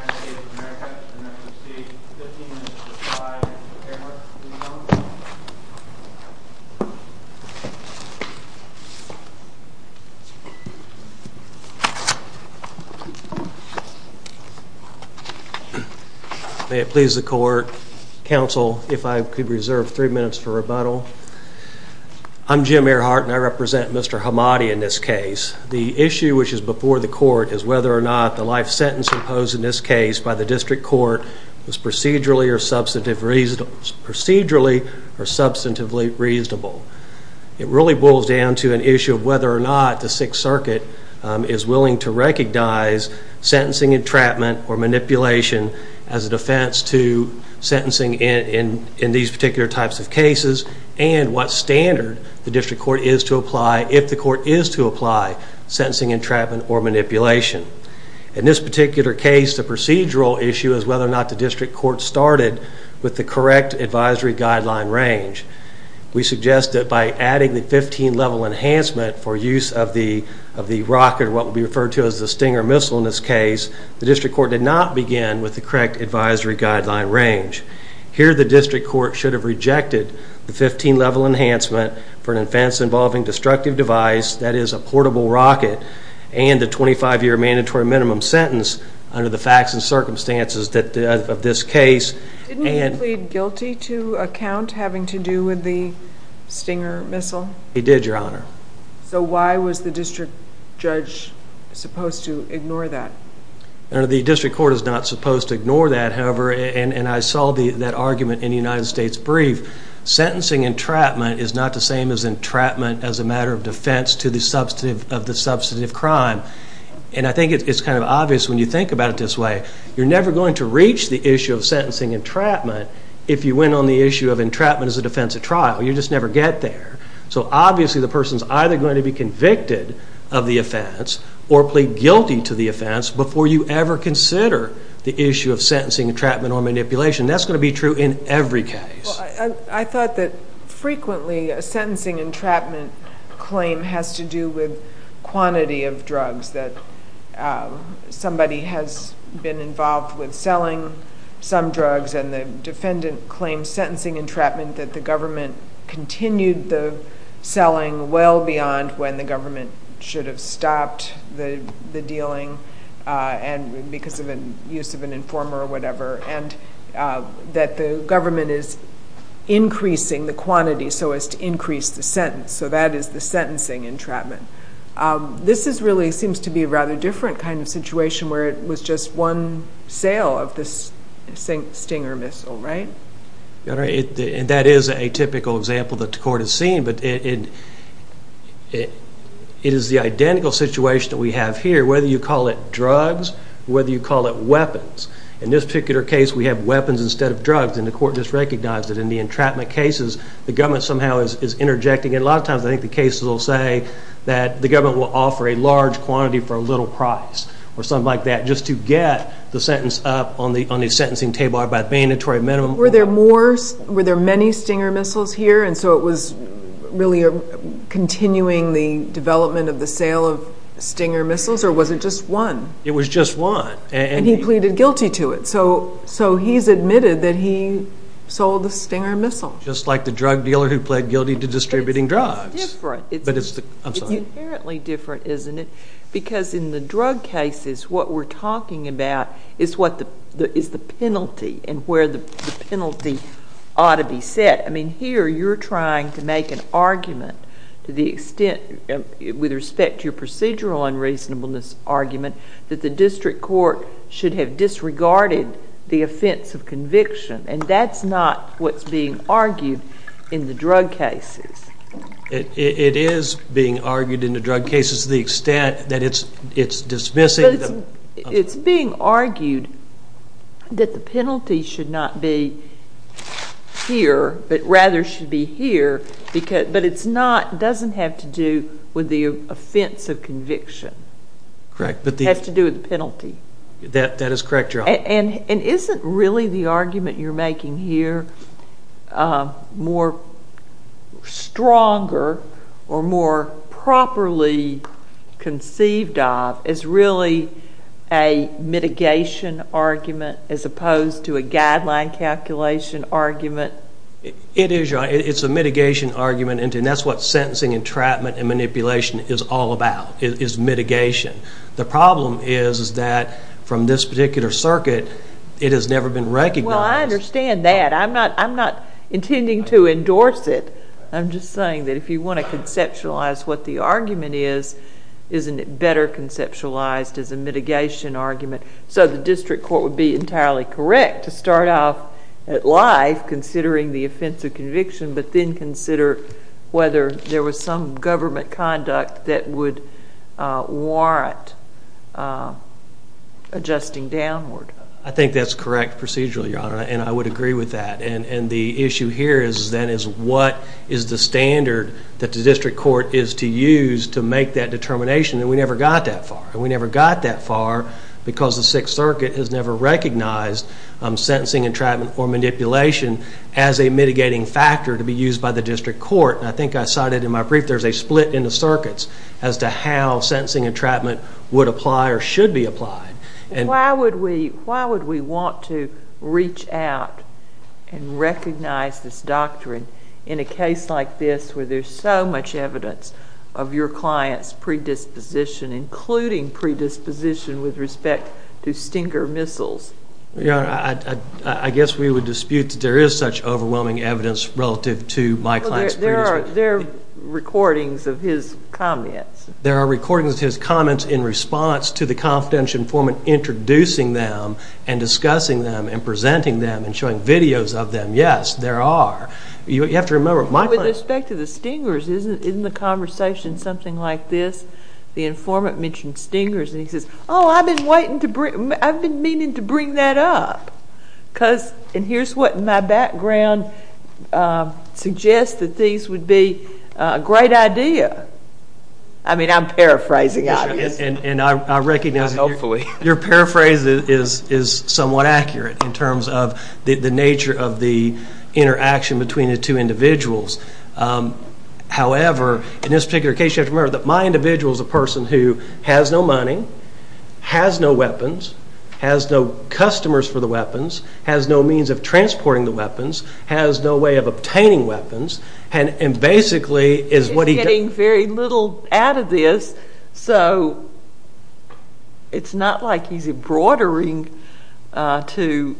of America, and I would like to see 15 minutes of silence for the camera, please come up. May it please the court, counsel, if I could reserve three minutes for rebuttal. I'm Jim Earhart and I represent Mr. Hammadi in this case. The issue which is before the court is whether or not the life sentence imposed in this case by the district court was procedurally or substantively reasonable. It really boils down to an issue of whether or not the Sixth Circuit is willing to recognize sentencing entrapment or manipulation as a defense to sentencing in these particular types of cases and what standard the district court is to apply if the court is to apply sentencing entrapment or manipulation. In this particular case, the procedural issue is whether or not the district court started with the correct advisory guideline range. We suggest that by adding the 15-level enhancement for use of the rocket, what would be referred to as the Stinger missile in this case, the district court did not begin with the correct advisory guideline range. Here the district court should have rejected the 15-level enhancement for an offense involving destructive device, that is a portable rocket, and a 25-year mandatory minimum sentence under the facts and circumstances of this case. Didn't he plead guilty to a count having to do with the Stinger missile? He did, Your Honor. So why was the district judge supposed to ignore that? The district court is not supposed to ignore that. However, and I saw that argument in the United States Brief, sentencing entrapment is not the same as entrapment as a matter of defense of the substantive crime. And I think it's kind of obvious when you think about it this way, you're never going to reach the issue of sentencing entrapment if you went on the issue of entrapment as a defense of trial. You just never get there. So obviously the person is either going to be convicted of the offense or plead guilty to the offense before you ever consider the issue of sentencing entrapment or manipulation. That's going to be true in every case. I thought that frequently a sentencing entrapment claim has to do with quantity of drugs, that somebody has been involved with selling some drugs, and the defendant claims sentencing entrapment that the government continued the selling well beyond when the government should have stopped the dealing because of the use of an informer or whatever, and that the government is increasing the quantity so as to increase the sentence. So that is the sentencing entrapment. This really seems to be a rather different kind of situation where it was just one sale of this Stinger missile, right? That is a typical example that the court has seen, but it is the identical situation that we have here, whether you call it drugs or whether you call it weapons. In this particular case, we have weapons instead of drugs, and the court just recognized that in the entrapment cases, the government somehow is interjecting. A lot of times I think the cases will say that the government will offer a large quantity for a little price or something like that just to get the sentence up on the sentencing table by a mandatory minimum. Were there many Stinger missiles here, and so it was really continuing the development of the sale of Stinger missiles, or was it just one? It was just one. And he pleaded guilty to it, so he has admitted that he sold the Stinger missile. Just like the drug dealer who pled guilty to distributing drugs. It is different. I am sorry. It is inherently different, isn't it? Because in the drug cases, what we are talking about is the penalty and where the penalty ought to be set. Here you are trying to make an argument with respect to your procedural unreasonableness argument that the district court should have disregarded the offense of conviction, and that is not what is being argued in the drug cases. It is being argued in the drug cases to the extent that it is dismissing them. It is being argued that the penalty should not be here, but rather should be here, but it does not have to do with the offense of conviction. Correct. It has to do with the penalty. That is correct, Your Honor. And isn't really the argument you are making here more stronger or more properly conceived of as really a mitigation argument as opposed to a guideline calculation argument? It is, Your Honor. It is a mitigation argument, and that is what sentencing, entrapment, and manipulation is all about, is mitigation. The problem is that from this particular circuit, it has never been recognized. Well, I understand that. I am not intending to endorse it. I am just saying that if you want to conceptualize what the argument is, isn't it better conceptualized as a mitigation argument? So the district court would be entirely correct to start off at life considering the offense of conviction, but then consider whether there was some government conduct that would warrant adjusting downward. I think that is correct procedurally, Your Honor, and I would agree with that. And the issue here then is what is the standard that the district court is to use to make that determination, and we never got that far. And we never got that far because the Sixth Circuit has never recognized sentencing, entrapment, or manipulation as a mitigating factor to be used by the district court. And I think I cited in my brief there is a split in the circuits as to how sentencing, entrapment would apply or should be applied. Why would we want to reach out and recognize this doctrine in a case like this where there is so much evidence of your client's predisposition, including predisposition with respect to Stinger missiles? Your Honor, I guess we would dispute that there is such overwhelming evidence relative to my client's predisposition. There are recordings of his comments. There are recordings of his comments in response to the confidential informant introducing them and discussing them and presenting them and showing videos of them. Yes, there are. You have to remember, my client— With respect to the Stingers, isn't the conversation something like this? The informant mentioned Stingers, and he says, oh, I've been meaning to bring that up. And here's what my background suggests, that these would be a great idea. I mean, I'm paraphrasing, obviously. And I recognize that your paraphrase is somewhat accurate in terms of the nature of the interaction between the two individuals. However, in this particular case, you have to remember that my individual is a person who has no money, has no weapons, has no customers for the weapons, has no means of transporting the weapons, has no way of obtaining weapons, and basically is what he— He's getting very little out of this, so it's not like he's broadering to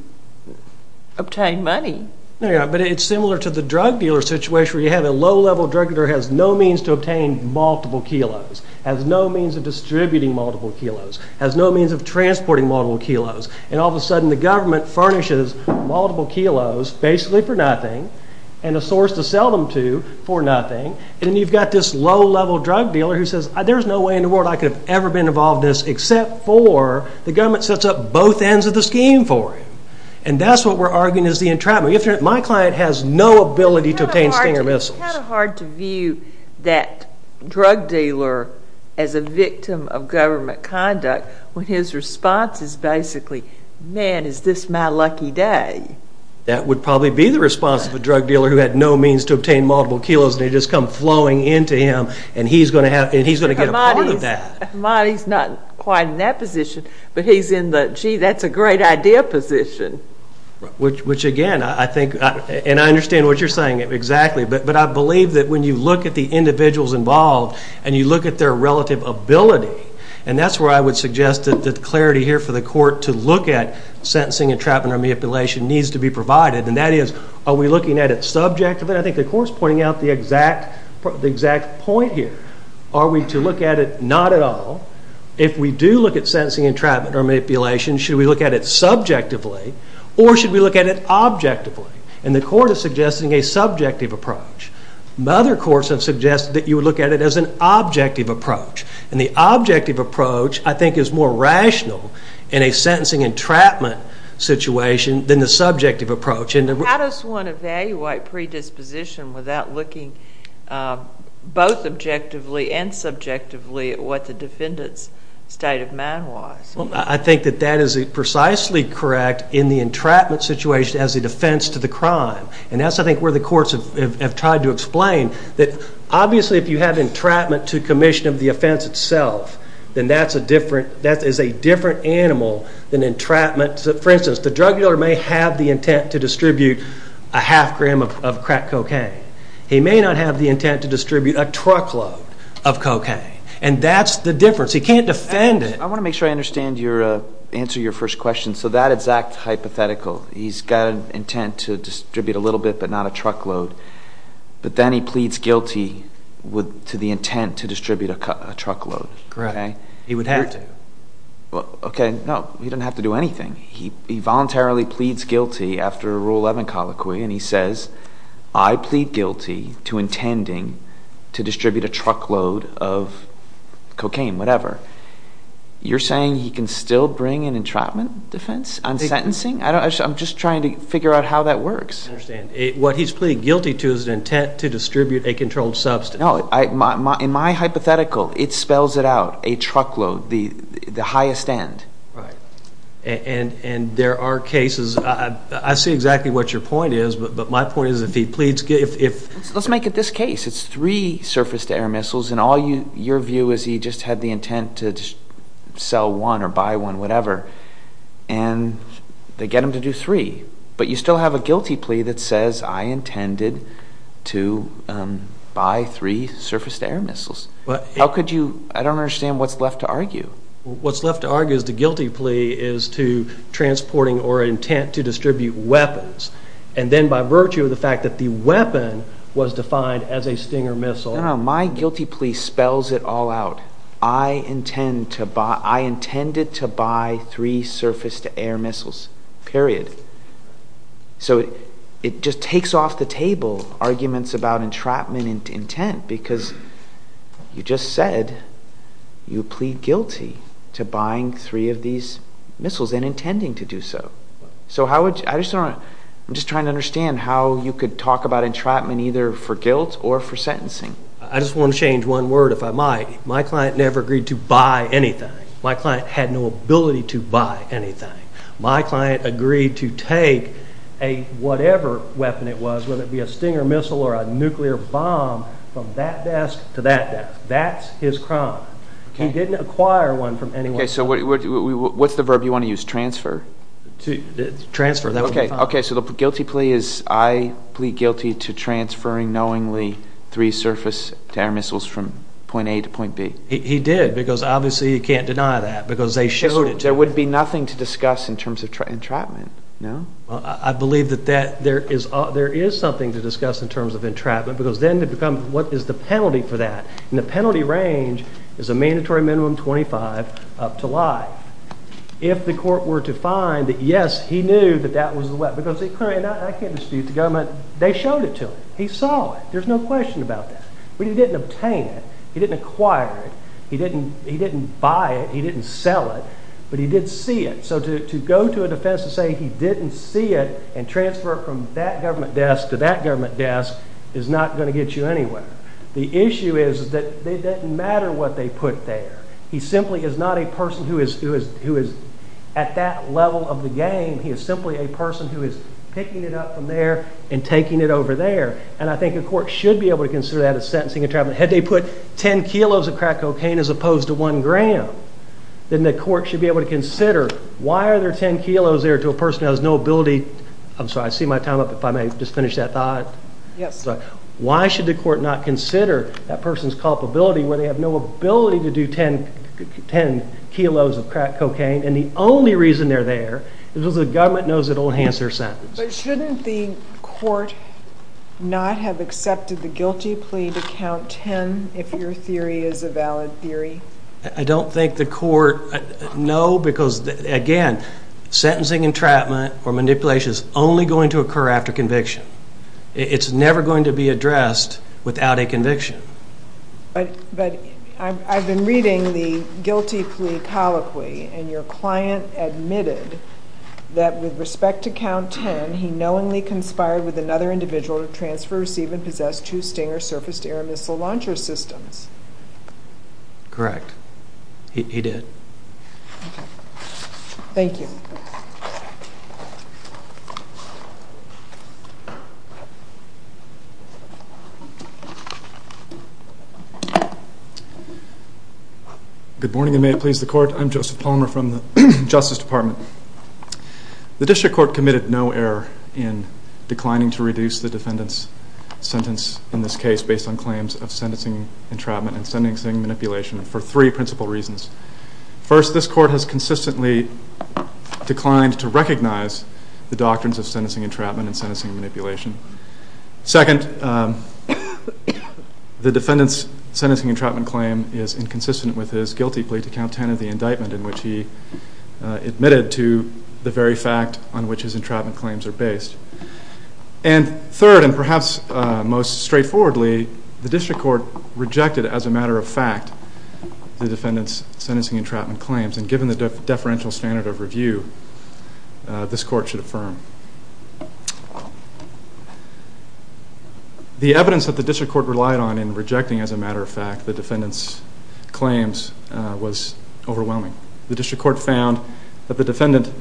obtain money. But it's similar to the drug dealer situation where you have a low-level drug dealer who has no means to obtain multiple kilos, has no means of distributing multiple kilos, has no means of transporting multiple kilos. And all of a sudden, the government furnishes multiple kilos, basically for nothing, and a source to sell them to for nothing. And then you've got this low-level drug dealer who says, there's no way in the world I could have ever been involved in this except for the government sets up both ends of the scheme for him. And that's what we're arguing is the entrapment. My client has no ability to obtain stinger missiles. It's kind of hard to view that drug dealer as a victim of government conduct when his response is basically, man, is this my lucky day? That would probably be the response of a drug dealer who had no means to obtain multiple kilos, and they just come flowing into him, and he's going to get a part of that. He's not quite in that position, but he's in the, gee, that's a great idea position. Which, again, I think, and I understand what you're saying exactly, but I believe that when you look at the individuals involved and you look at their relative ability, and that's where I would suggest that the clarity here for the court to look at sentencing entrapment or manipulation needs to be provided, and that is, are we looking at it subjectively? I think the court's pointing out the exact point here. Are we to look at it not at all? If we do look at sentencing entrapment or manipulation, should we look at it subjectively, or should we look at it objectively? And the court is suggesting a subjective approach. Other courts have suggested that you would look at it as an objective approach, and the objective approach, I think, is more rational in a sentencing entrapment situation than the subjective approach. How does one evaluate predisposition without looking both objectively and subjectively at what the defendant's state of mind was? I think that that is precisely correct in the entrapment situation as a defense to the crime, and that's, I think, where the courts have tried to explain that, obviously, if you have entrapment to commission of the offense itself, then that is a different animal than entrapment. For instance, the drug dealer may have the intent to distribute a half gram of crack cocaine. He may not have the intent to distribute a truckload of cocaine, and that's the difference. He can't defend it. I want to make sure I understand your answer to your first question. So that exact hypothetical, he's got an intent to distribute a little bit but not a truckload, but then he pleads guilty to the intent to distribute a truckload. Correct. He would have to. Okay, no, he doesn't have to do anything. He voluntarily pleads guilty after a Rule 11 colloquy, and he says, I plead guilty to intending to distribute a truckload of cocaine, whatever. You're saying he can still bring an entrapment defense on sentencing? I'm just trying to figure out how that works. I understand. What he's pleading guilty to is an intent to distribute a controlled substance. No, in my hypothetical, it spells it out, a truckload, the highest end. Right, and there are cases. I see exactly what your point is, but my point is if he pleads guilty. Let's make it this case. It's three surface-to-air missiles, and all your view is he just had the intent to sell one or buy one, whatever, and they get him to do three, but you still have a guilty plea that says, I intended to buy three surface-to-air missiles. I don't understand what's left to argue. What's left to argue is the guilty plea is to transporting or intent to distribute weapons, and then by virtue of the fact that the weapon was defined as a Stinger missile. No, my guilty plea spells it all out. I intended to buy three surface-to-air missiles, period. So it just takes off the table arguments about entrapment intent because you just said you plead guilty to buying three of these missiles and intending to do so. So I'm just trying to understand how you could talk about entrapment either for guilt or for sentencing. I just want to change one word if I might. My client never agreed to buy anything. My client had no ability to buy anything. My client agreed to take whatever weapon it was, whether it be a Stinger missile or a nuclear bomb, from that desk to that desk. That's his crime. He didn't acquire one from anyone. Okay, so what's the verb you want to use, transfer? Transfer, that would be fine. Okay, so the guilty plea is I plead guilty to transferring knowingly three surface-to-air missiles from point A to point B. He did because obviously he can't deny that because they showed it to him. There would be nothing to discuss in terms of entrapment, no? I believe that there is something to discuss in terms of entrapment because then what is the penalty for that? And the penalty range is a mandatory minimum of 25 up to life. If the court were to find that, yes, he knew that that was the weapon. I can't dispute the government. They showed it to him. He saw it. There's no question about that. But he didn't obtain it. He didn't acquire it. He didn't buy it. He didn't sell it. But he did see it. So to go to a defense and say he didn't see it and transfer it from that government desk to that government desk is not going to get you anywhere. The issue is that it doesn't matter what they put there. He simply is not a person who is at that level of the game. He is simply a person who is picking it up from there and taking it over there. And I think a court should be able to consider that as sentencing entrapment. Had they put 10 kilos of crack cocaine as opposed to 1 gram, then the court should be able to consider why are there 10 kilos there to a person who has no ability? I'm sorry, I see my time up. If I may just finish that thought. Yes. Why should the court not consider that person's culpability where they have no ability to do 10 kilos of crack cocaine and the only reason they're there is because the government knows it will enhance their sentence? But shouldn't the court not have accepted the guilty plea to count 10 if your theory is a valid theory? I don't think the court, no, because again, sentencing entrapment or manipulation is only going to occur after conviction. It's never going to be addressed without a conviction. But I've been reading the guilty plea colloquy and your client admitted that with respect to count 10, he knowingly conspired with another individual to transfer, receive, and possess two Stinger surface-to-air missile launcher systems. Correct. He did. Thank you. Good morning and may it please the court. I'm Joseph Palmer from the Justice Department. The district court committed no error in declining to reduce the defendant's sentence in this case based on claims of sentencing entrapment and sentencing manipulation for three principal reasons. First, this court has consistently declined to recognize the doctrines of sentencing entrapment and sentencing manipulation. Second, the defendant's sentencing entrapment claim is inconsistent with his guilty plea to count 10 of the indictment in which he admitted to the very fact on which his entrapment claims are based. And third, and perhaps most straightforwardly, the district court rejected as a matter of fact the defendant's sentencing entrapment claims and given the deferential standard of review, this court should affirm. The evidence that the district court relied on in rejecting, as a matter of fact, the defendant's claims was overwhelming. The district court found that the defendant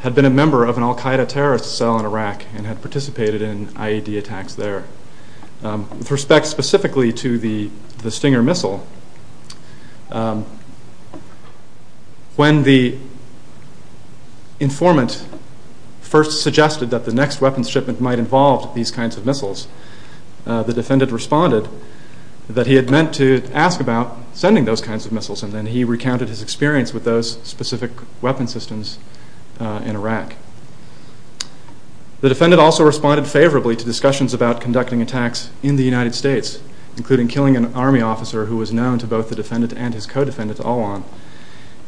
had been a member of an al-Qaeda terrorist cell in Iraq and had participated in IED attacks there. With respect specifically to the Stinger missile, when the informant first suggested that the next weapons shipment might involve these kinds of missiles, the defendant responded that he had meant to ask about sending those kinds of missiles, and then he recounted his experience with those specific weapons systems in Iraq. The defendant also responded favorably to discussions about conducting attacks in the United States, including killing an army officer who was known to both the defendant and his co-defendant all along.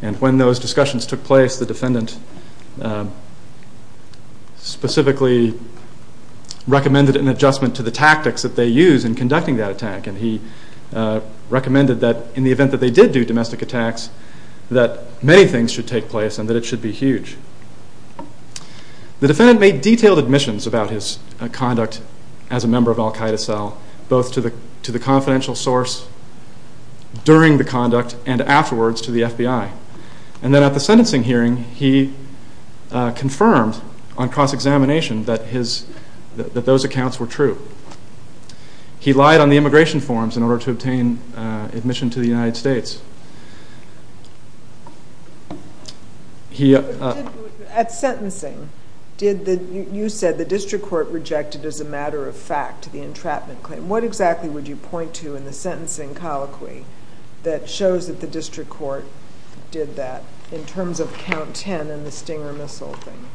And when those discussions took place, the defendant specifically recommended an adjustment to the tactics that they use in conducting that attack, and he recommended that in the event that they did do domestic attacks, that many things should take place and that it should be huge. The defendant made detailed admissions about his conduct as a member of al-Qaeda cell, both to the confidential source during the conduct and afterwards to the FBI. And then at the sentencing hearing, he confirmed on cross-examination that those accounts were true. He lied on the immigration forms in order to obtain admission to the United States. At sentencing, you said the district court rejected as a matter of fact the entrapment claim. What exactly would you point to in the sentencing colloquy that shows that the district court did that in terms of count 10 and the Stinger missile thing?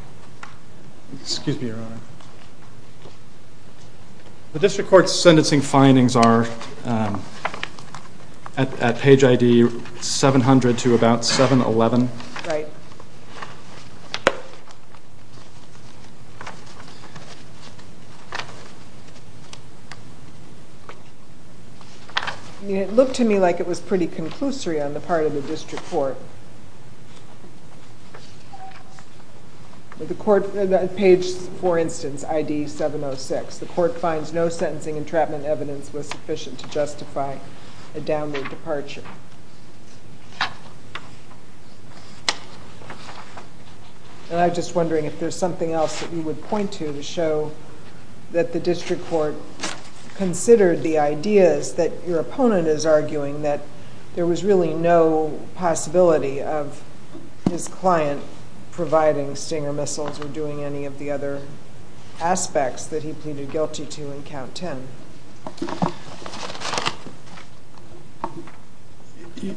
Excuse me, Your Honor. The district court's sentencing findings are at page ID 700 to about 711. Right. It looked to me like it was pretty conclusory on the part of the district court. Page, for instance, ID 706. The court finds no sentencing entrapment evidence was sufficient to justify a downward departure. And I'm just wondering if there's something else that you would point to to show that the district court considered the ideas that your opponent is arguing that there was really no possibility of his client providing Stinger missiles or doing any of the other aspects that he pleaded guilty to in count 10. Okay.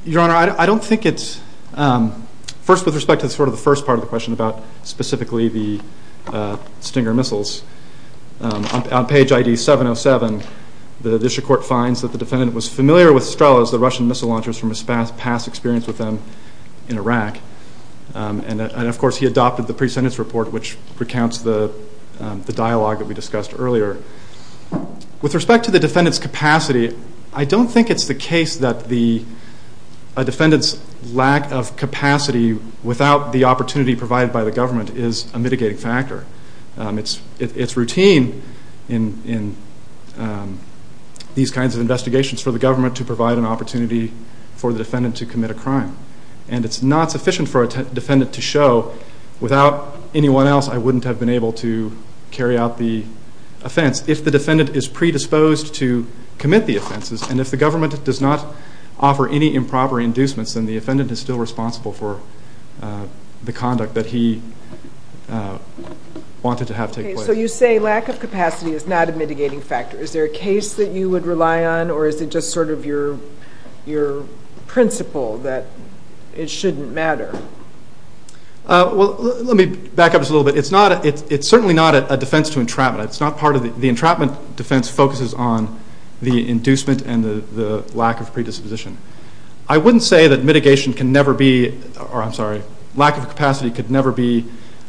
Your Honor, I don't think it's... First, with respect to sort of the first part of the question about specifically the Stinger missiles, on page ID 707, the district court finds that the defendant was familiar with Strelas, the Russian missile launchers, from his past experience with them in Iraq. And of course, he adopted the pre-sentence report, which recounts the dialogue that we discussed earlier, With respect to the defendant's capacity, I don't think it's the case that a defendant's lack of capacity without the opportunity provided by the government is a mitigating factor. It's routine in these kinds of investigations for the government to provide an opportunity for the defendant to commit a crime. And it's not sufficient for a defendant to show, without anyone else, I wouldn't have been able to carry out the offense. If the defendant is predisposed to commit the offenses, and if the government does not offer any improper inducements, then the defendant is still responsible for the conduct that he wanted to have take place. Okay, so you say lack of capacity is not a mitigating factor. Is there a case that you would rely on, or is it just sort of your principle that it shouldn't matter? Well, let me back up just a little bit. It's certainly not a defense to entrapment. The entrapment defense focuses on the inducement and the lack of predisposition. I wouldn't say that mitigation can never be, or I'm sorry, lack of capacity could never be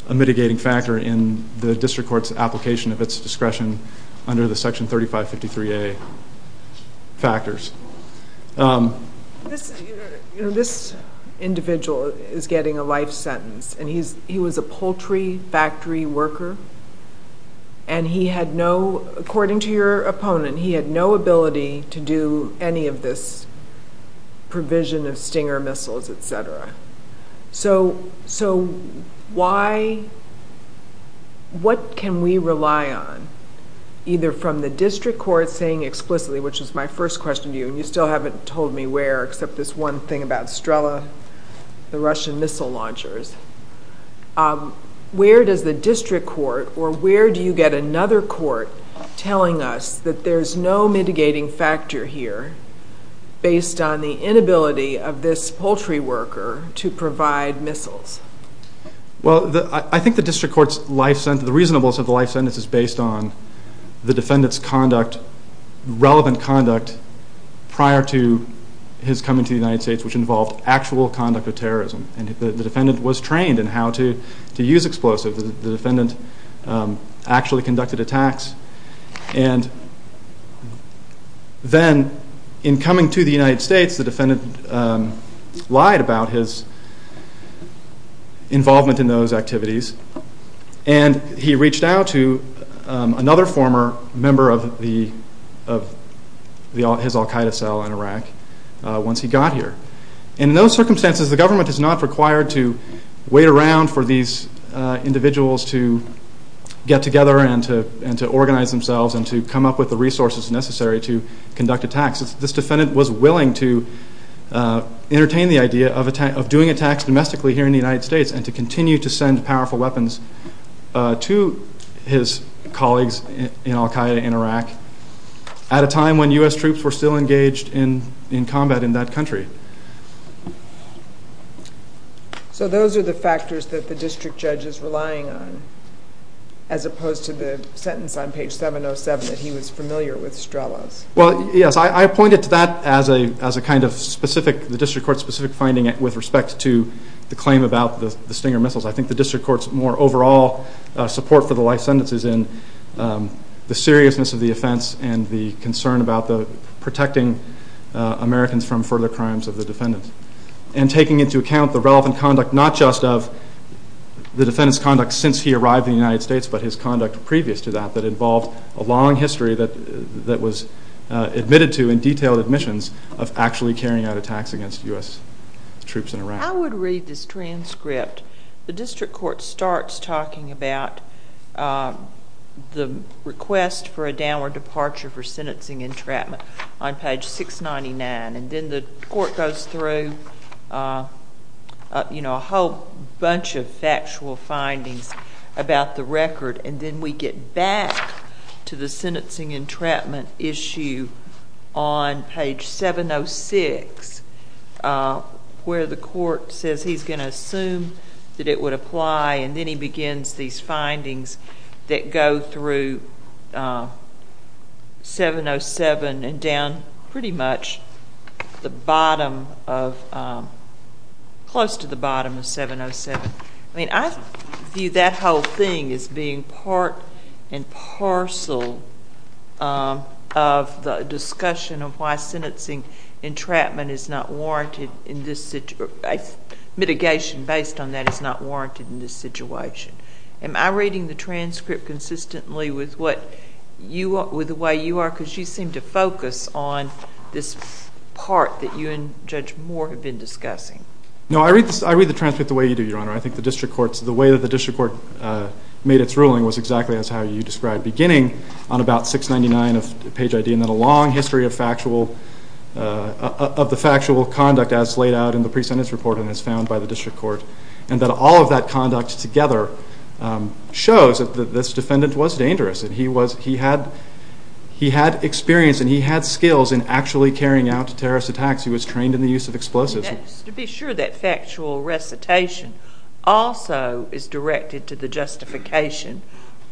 a mitigating factor in the district court's application of its discretion under the Section 3553A factors. This individual is getting a life sentence, and he was a poultry factory worker, and he had no, according to your opponent, he had no ability to do any of this provision of Stinger missiles, et cetera. So what can we rely on, either from the district court saying explicitly, which is my first question to you, and you still haven't told me where, except this one thing about Strella, the Russian missile launchers. Where does the district court, or where do you get another court telling us that there's no mitigating factor here based on the inability of this poultry worker to provide missiles? Well, I think the district court's life sentence, the reasonableness of the life sentence is based on the defendant's conduct, relevant conduct prior to his coming to the United States, which involved actual conduct of terrorism, and the defendant was trained in how to use explosives. The defendant actually conducted attacks, and then in coming to the United States, the defendant lied about his involvement in those activities, and he reached out to another former member of his al-Qaeda cell in Iraq once he got here. And in those circumstances, the government is not required to wait around for these individuals to get together and to organize themselves and to come up with the resources necessary to conduct attacks. This defendant was willing to entertain the idea of doing attacks domestically here in the United States and to continue to send powerful weapons to his colleagues in al-Qaeda in Iraq at a time when U.S. troops were still engaged in combat in that country. So those are the factors that the district judge is relying on, as opposed to the sentence on page 707 that he was familiar with Strello's. Well, yes, I point it to that as a kind of specific, the district court's specific finding with respect to the claim about the Stinger missiles. I think the district court's more overall support for the life sentence is in the seriousness of the offense and the concern about protecting Americans from further crimes of the defendants and taking into account the relevant conduct not just of the defendant's conduct since he arrived in the United States, but his conduct previous to that that involved a long history that was admitted to in detailed admissions of actually carrying out attacks against U.S. troops in Iraq. I would read this transcript. The district court starts talking about the request for a downward departure for sentencing entrapment on page 699, and then the court goes through a whole bunch of factual findings about the record, and then we get back to the sentencing entrapment issue on page 706 where the court says he's going to assume that it would apply, and then he begins these findings that go through 707 and down pretty much the bottom of, close to the bottom of 707. I mean, I view that whole thing as being part and parcel of the discussion of why sentencing entrapment is not warranted in this situation. Mitigation based on that is not warranted in this situation. Am I reading the transcript consistently with the way you are? Because you seem to focus on this part that you and Judge Moore have been discussing. No, I read the transcript the way you do, Your Honor. I think the way that the district court made its ruling was exactly as how you described, beginning on about 699 of page ID and then a long history of the factual conduct as laid out in the pre-sentence report and as found by the district court, and that all of that conduct together shows that this defendant was dangerous and he had experience and he had skills in actually carrying out terrorist attacks. He was trained in the use of explosives. Just to be sure, that factual recitation also is directed to the justification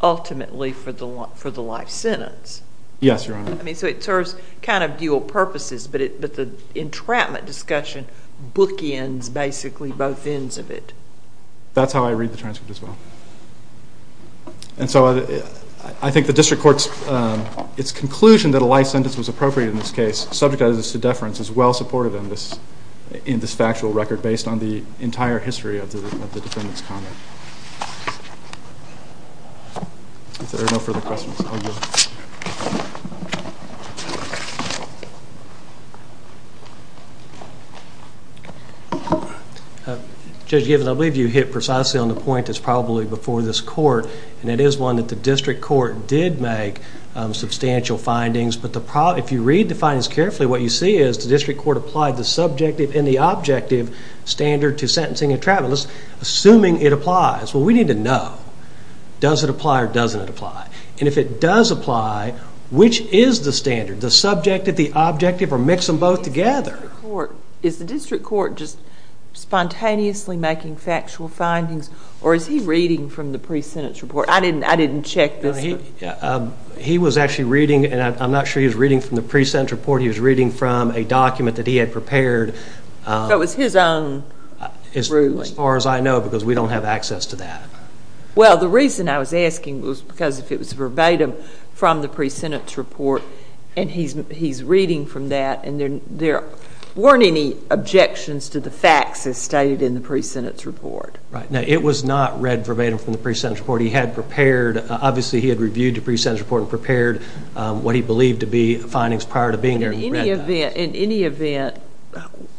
ultimately for the life sentence. Yes, Your Honor. So it serves kind of dual purposes, but the entrapment discussion bookends basically both ends of it. That's how I read the transcript as well. And so I think the district court's conclusion that a life sentence was appropriate in this case, subject to deference, is well supported in this factual record based on the entire history of the defendant's conduct. If there are no further questions, I'll go. Judge Gibbons, I believe you hit precisely on the point that's probably before this court, and it is one that the district court did make substantial findings, but if you read the findings carefully, what you see is the district court applied the subjective and the objective standard to sentencing entrapment. Assuming it applies. Well, we need to know. Does it apply or doesn't it apply? And if it does apply, which is the standard? The subjective, the objective, or mix them both together? Is the district court just spontaneously making factual findings, or is he reading from the pre-sentence report? I didn't check this. He was actually reading, and I'm not sure he was reading from the pre-sentence report. He was reading from a document that he had prepared. So it was his own ruling. As far as I know, because we don't have access to that. Well, the reason I was asking was because if it was verbatim from the pre-sentence report, and he's reading from that, and there weren't any objections to the facts as stated in the pre-sentence report. Right. Now, it was not read verbatim from the pre-sentence report. He had prepared, obviously he had reviewed the pre-sentence report and prepared what he believed to be findings prior to being there. In any event,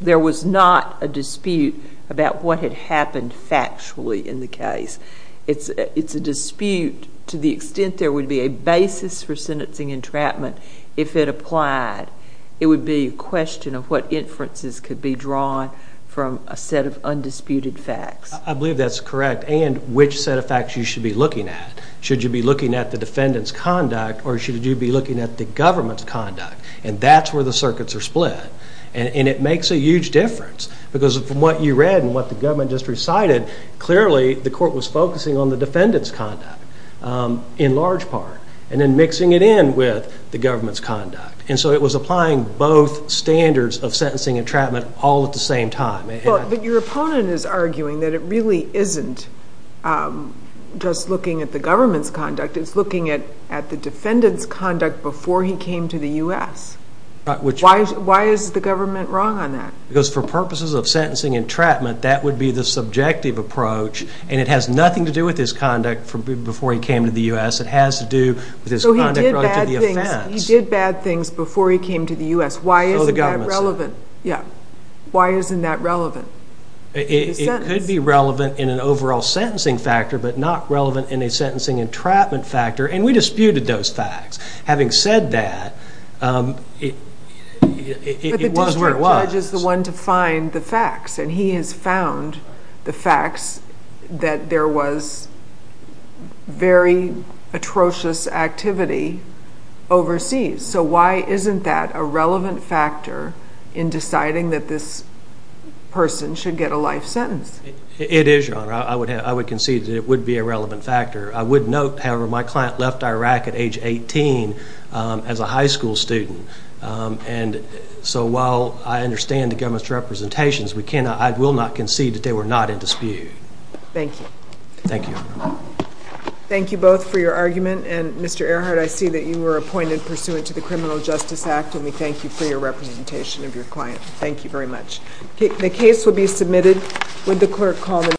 there was not a dispute about what had happened factually in the case. It's a dispute to the extent there would be a basis for sentencing entrapment if it applied. It would be a question of what inferences could be drawn from a set of undisputed facts. I believe that's correct, and which set of facts you should be looking at. Should you be looking at the defendant's conduct, or should you be looking at the government's conduct? And that's where the circuits are split. And it makes a huge difference because from what you read and what the government just recited, clearly the court was focusing on the defendant's conduct in large part, and then mixing it in with the government's conduct. And so it was applying both standards of sentencing entrapment all at the same time. But your opponent is arguing that it really isn't just looking at the government's conduct, it's looking at the defendant's conduct before he came to the U.S. Why is the government wrong on that? Because for purposes of sentencing entrapment, that would be the subjective approach, and it has nothing to do with his conduct before he came to the U.S. It has to do with his conduct prior to the offense. So he did bad things before he came to the U.S. Why isn't that relevant? Yeah. Why isn't that relevant? It could be relevant in an overall sentencing factor, but not relevant in a sentencing entrapment factor, and we disputed those facts. Having said that, it was where it was. But the district judge is the one to find the facts, and he has found the facts that there was very atrocious activity overseas. So why isn't that a relevant factor in deciding that this person should get a life sentence? It is, Your Honor. I would concede that it would be a relevant factor. I would note, however, my client left Iraq at age 18 as a high school student, and so while I understand the government's representations, I will not concede that they were not in dispute. Thank you. Thank you, Your Honor. Thank you both for your argument, and Mr. Earhart, I see that you were appointed pursuant to the Criminal Justice Act, and we thank you for your representation of your client. Thank you very much. The case will be submitted. Would the clerk call the...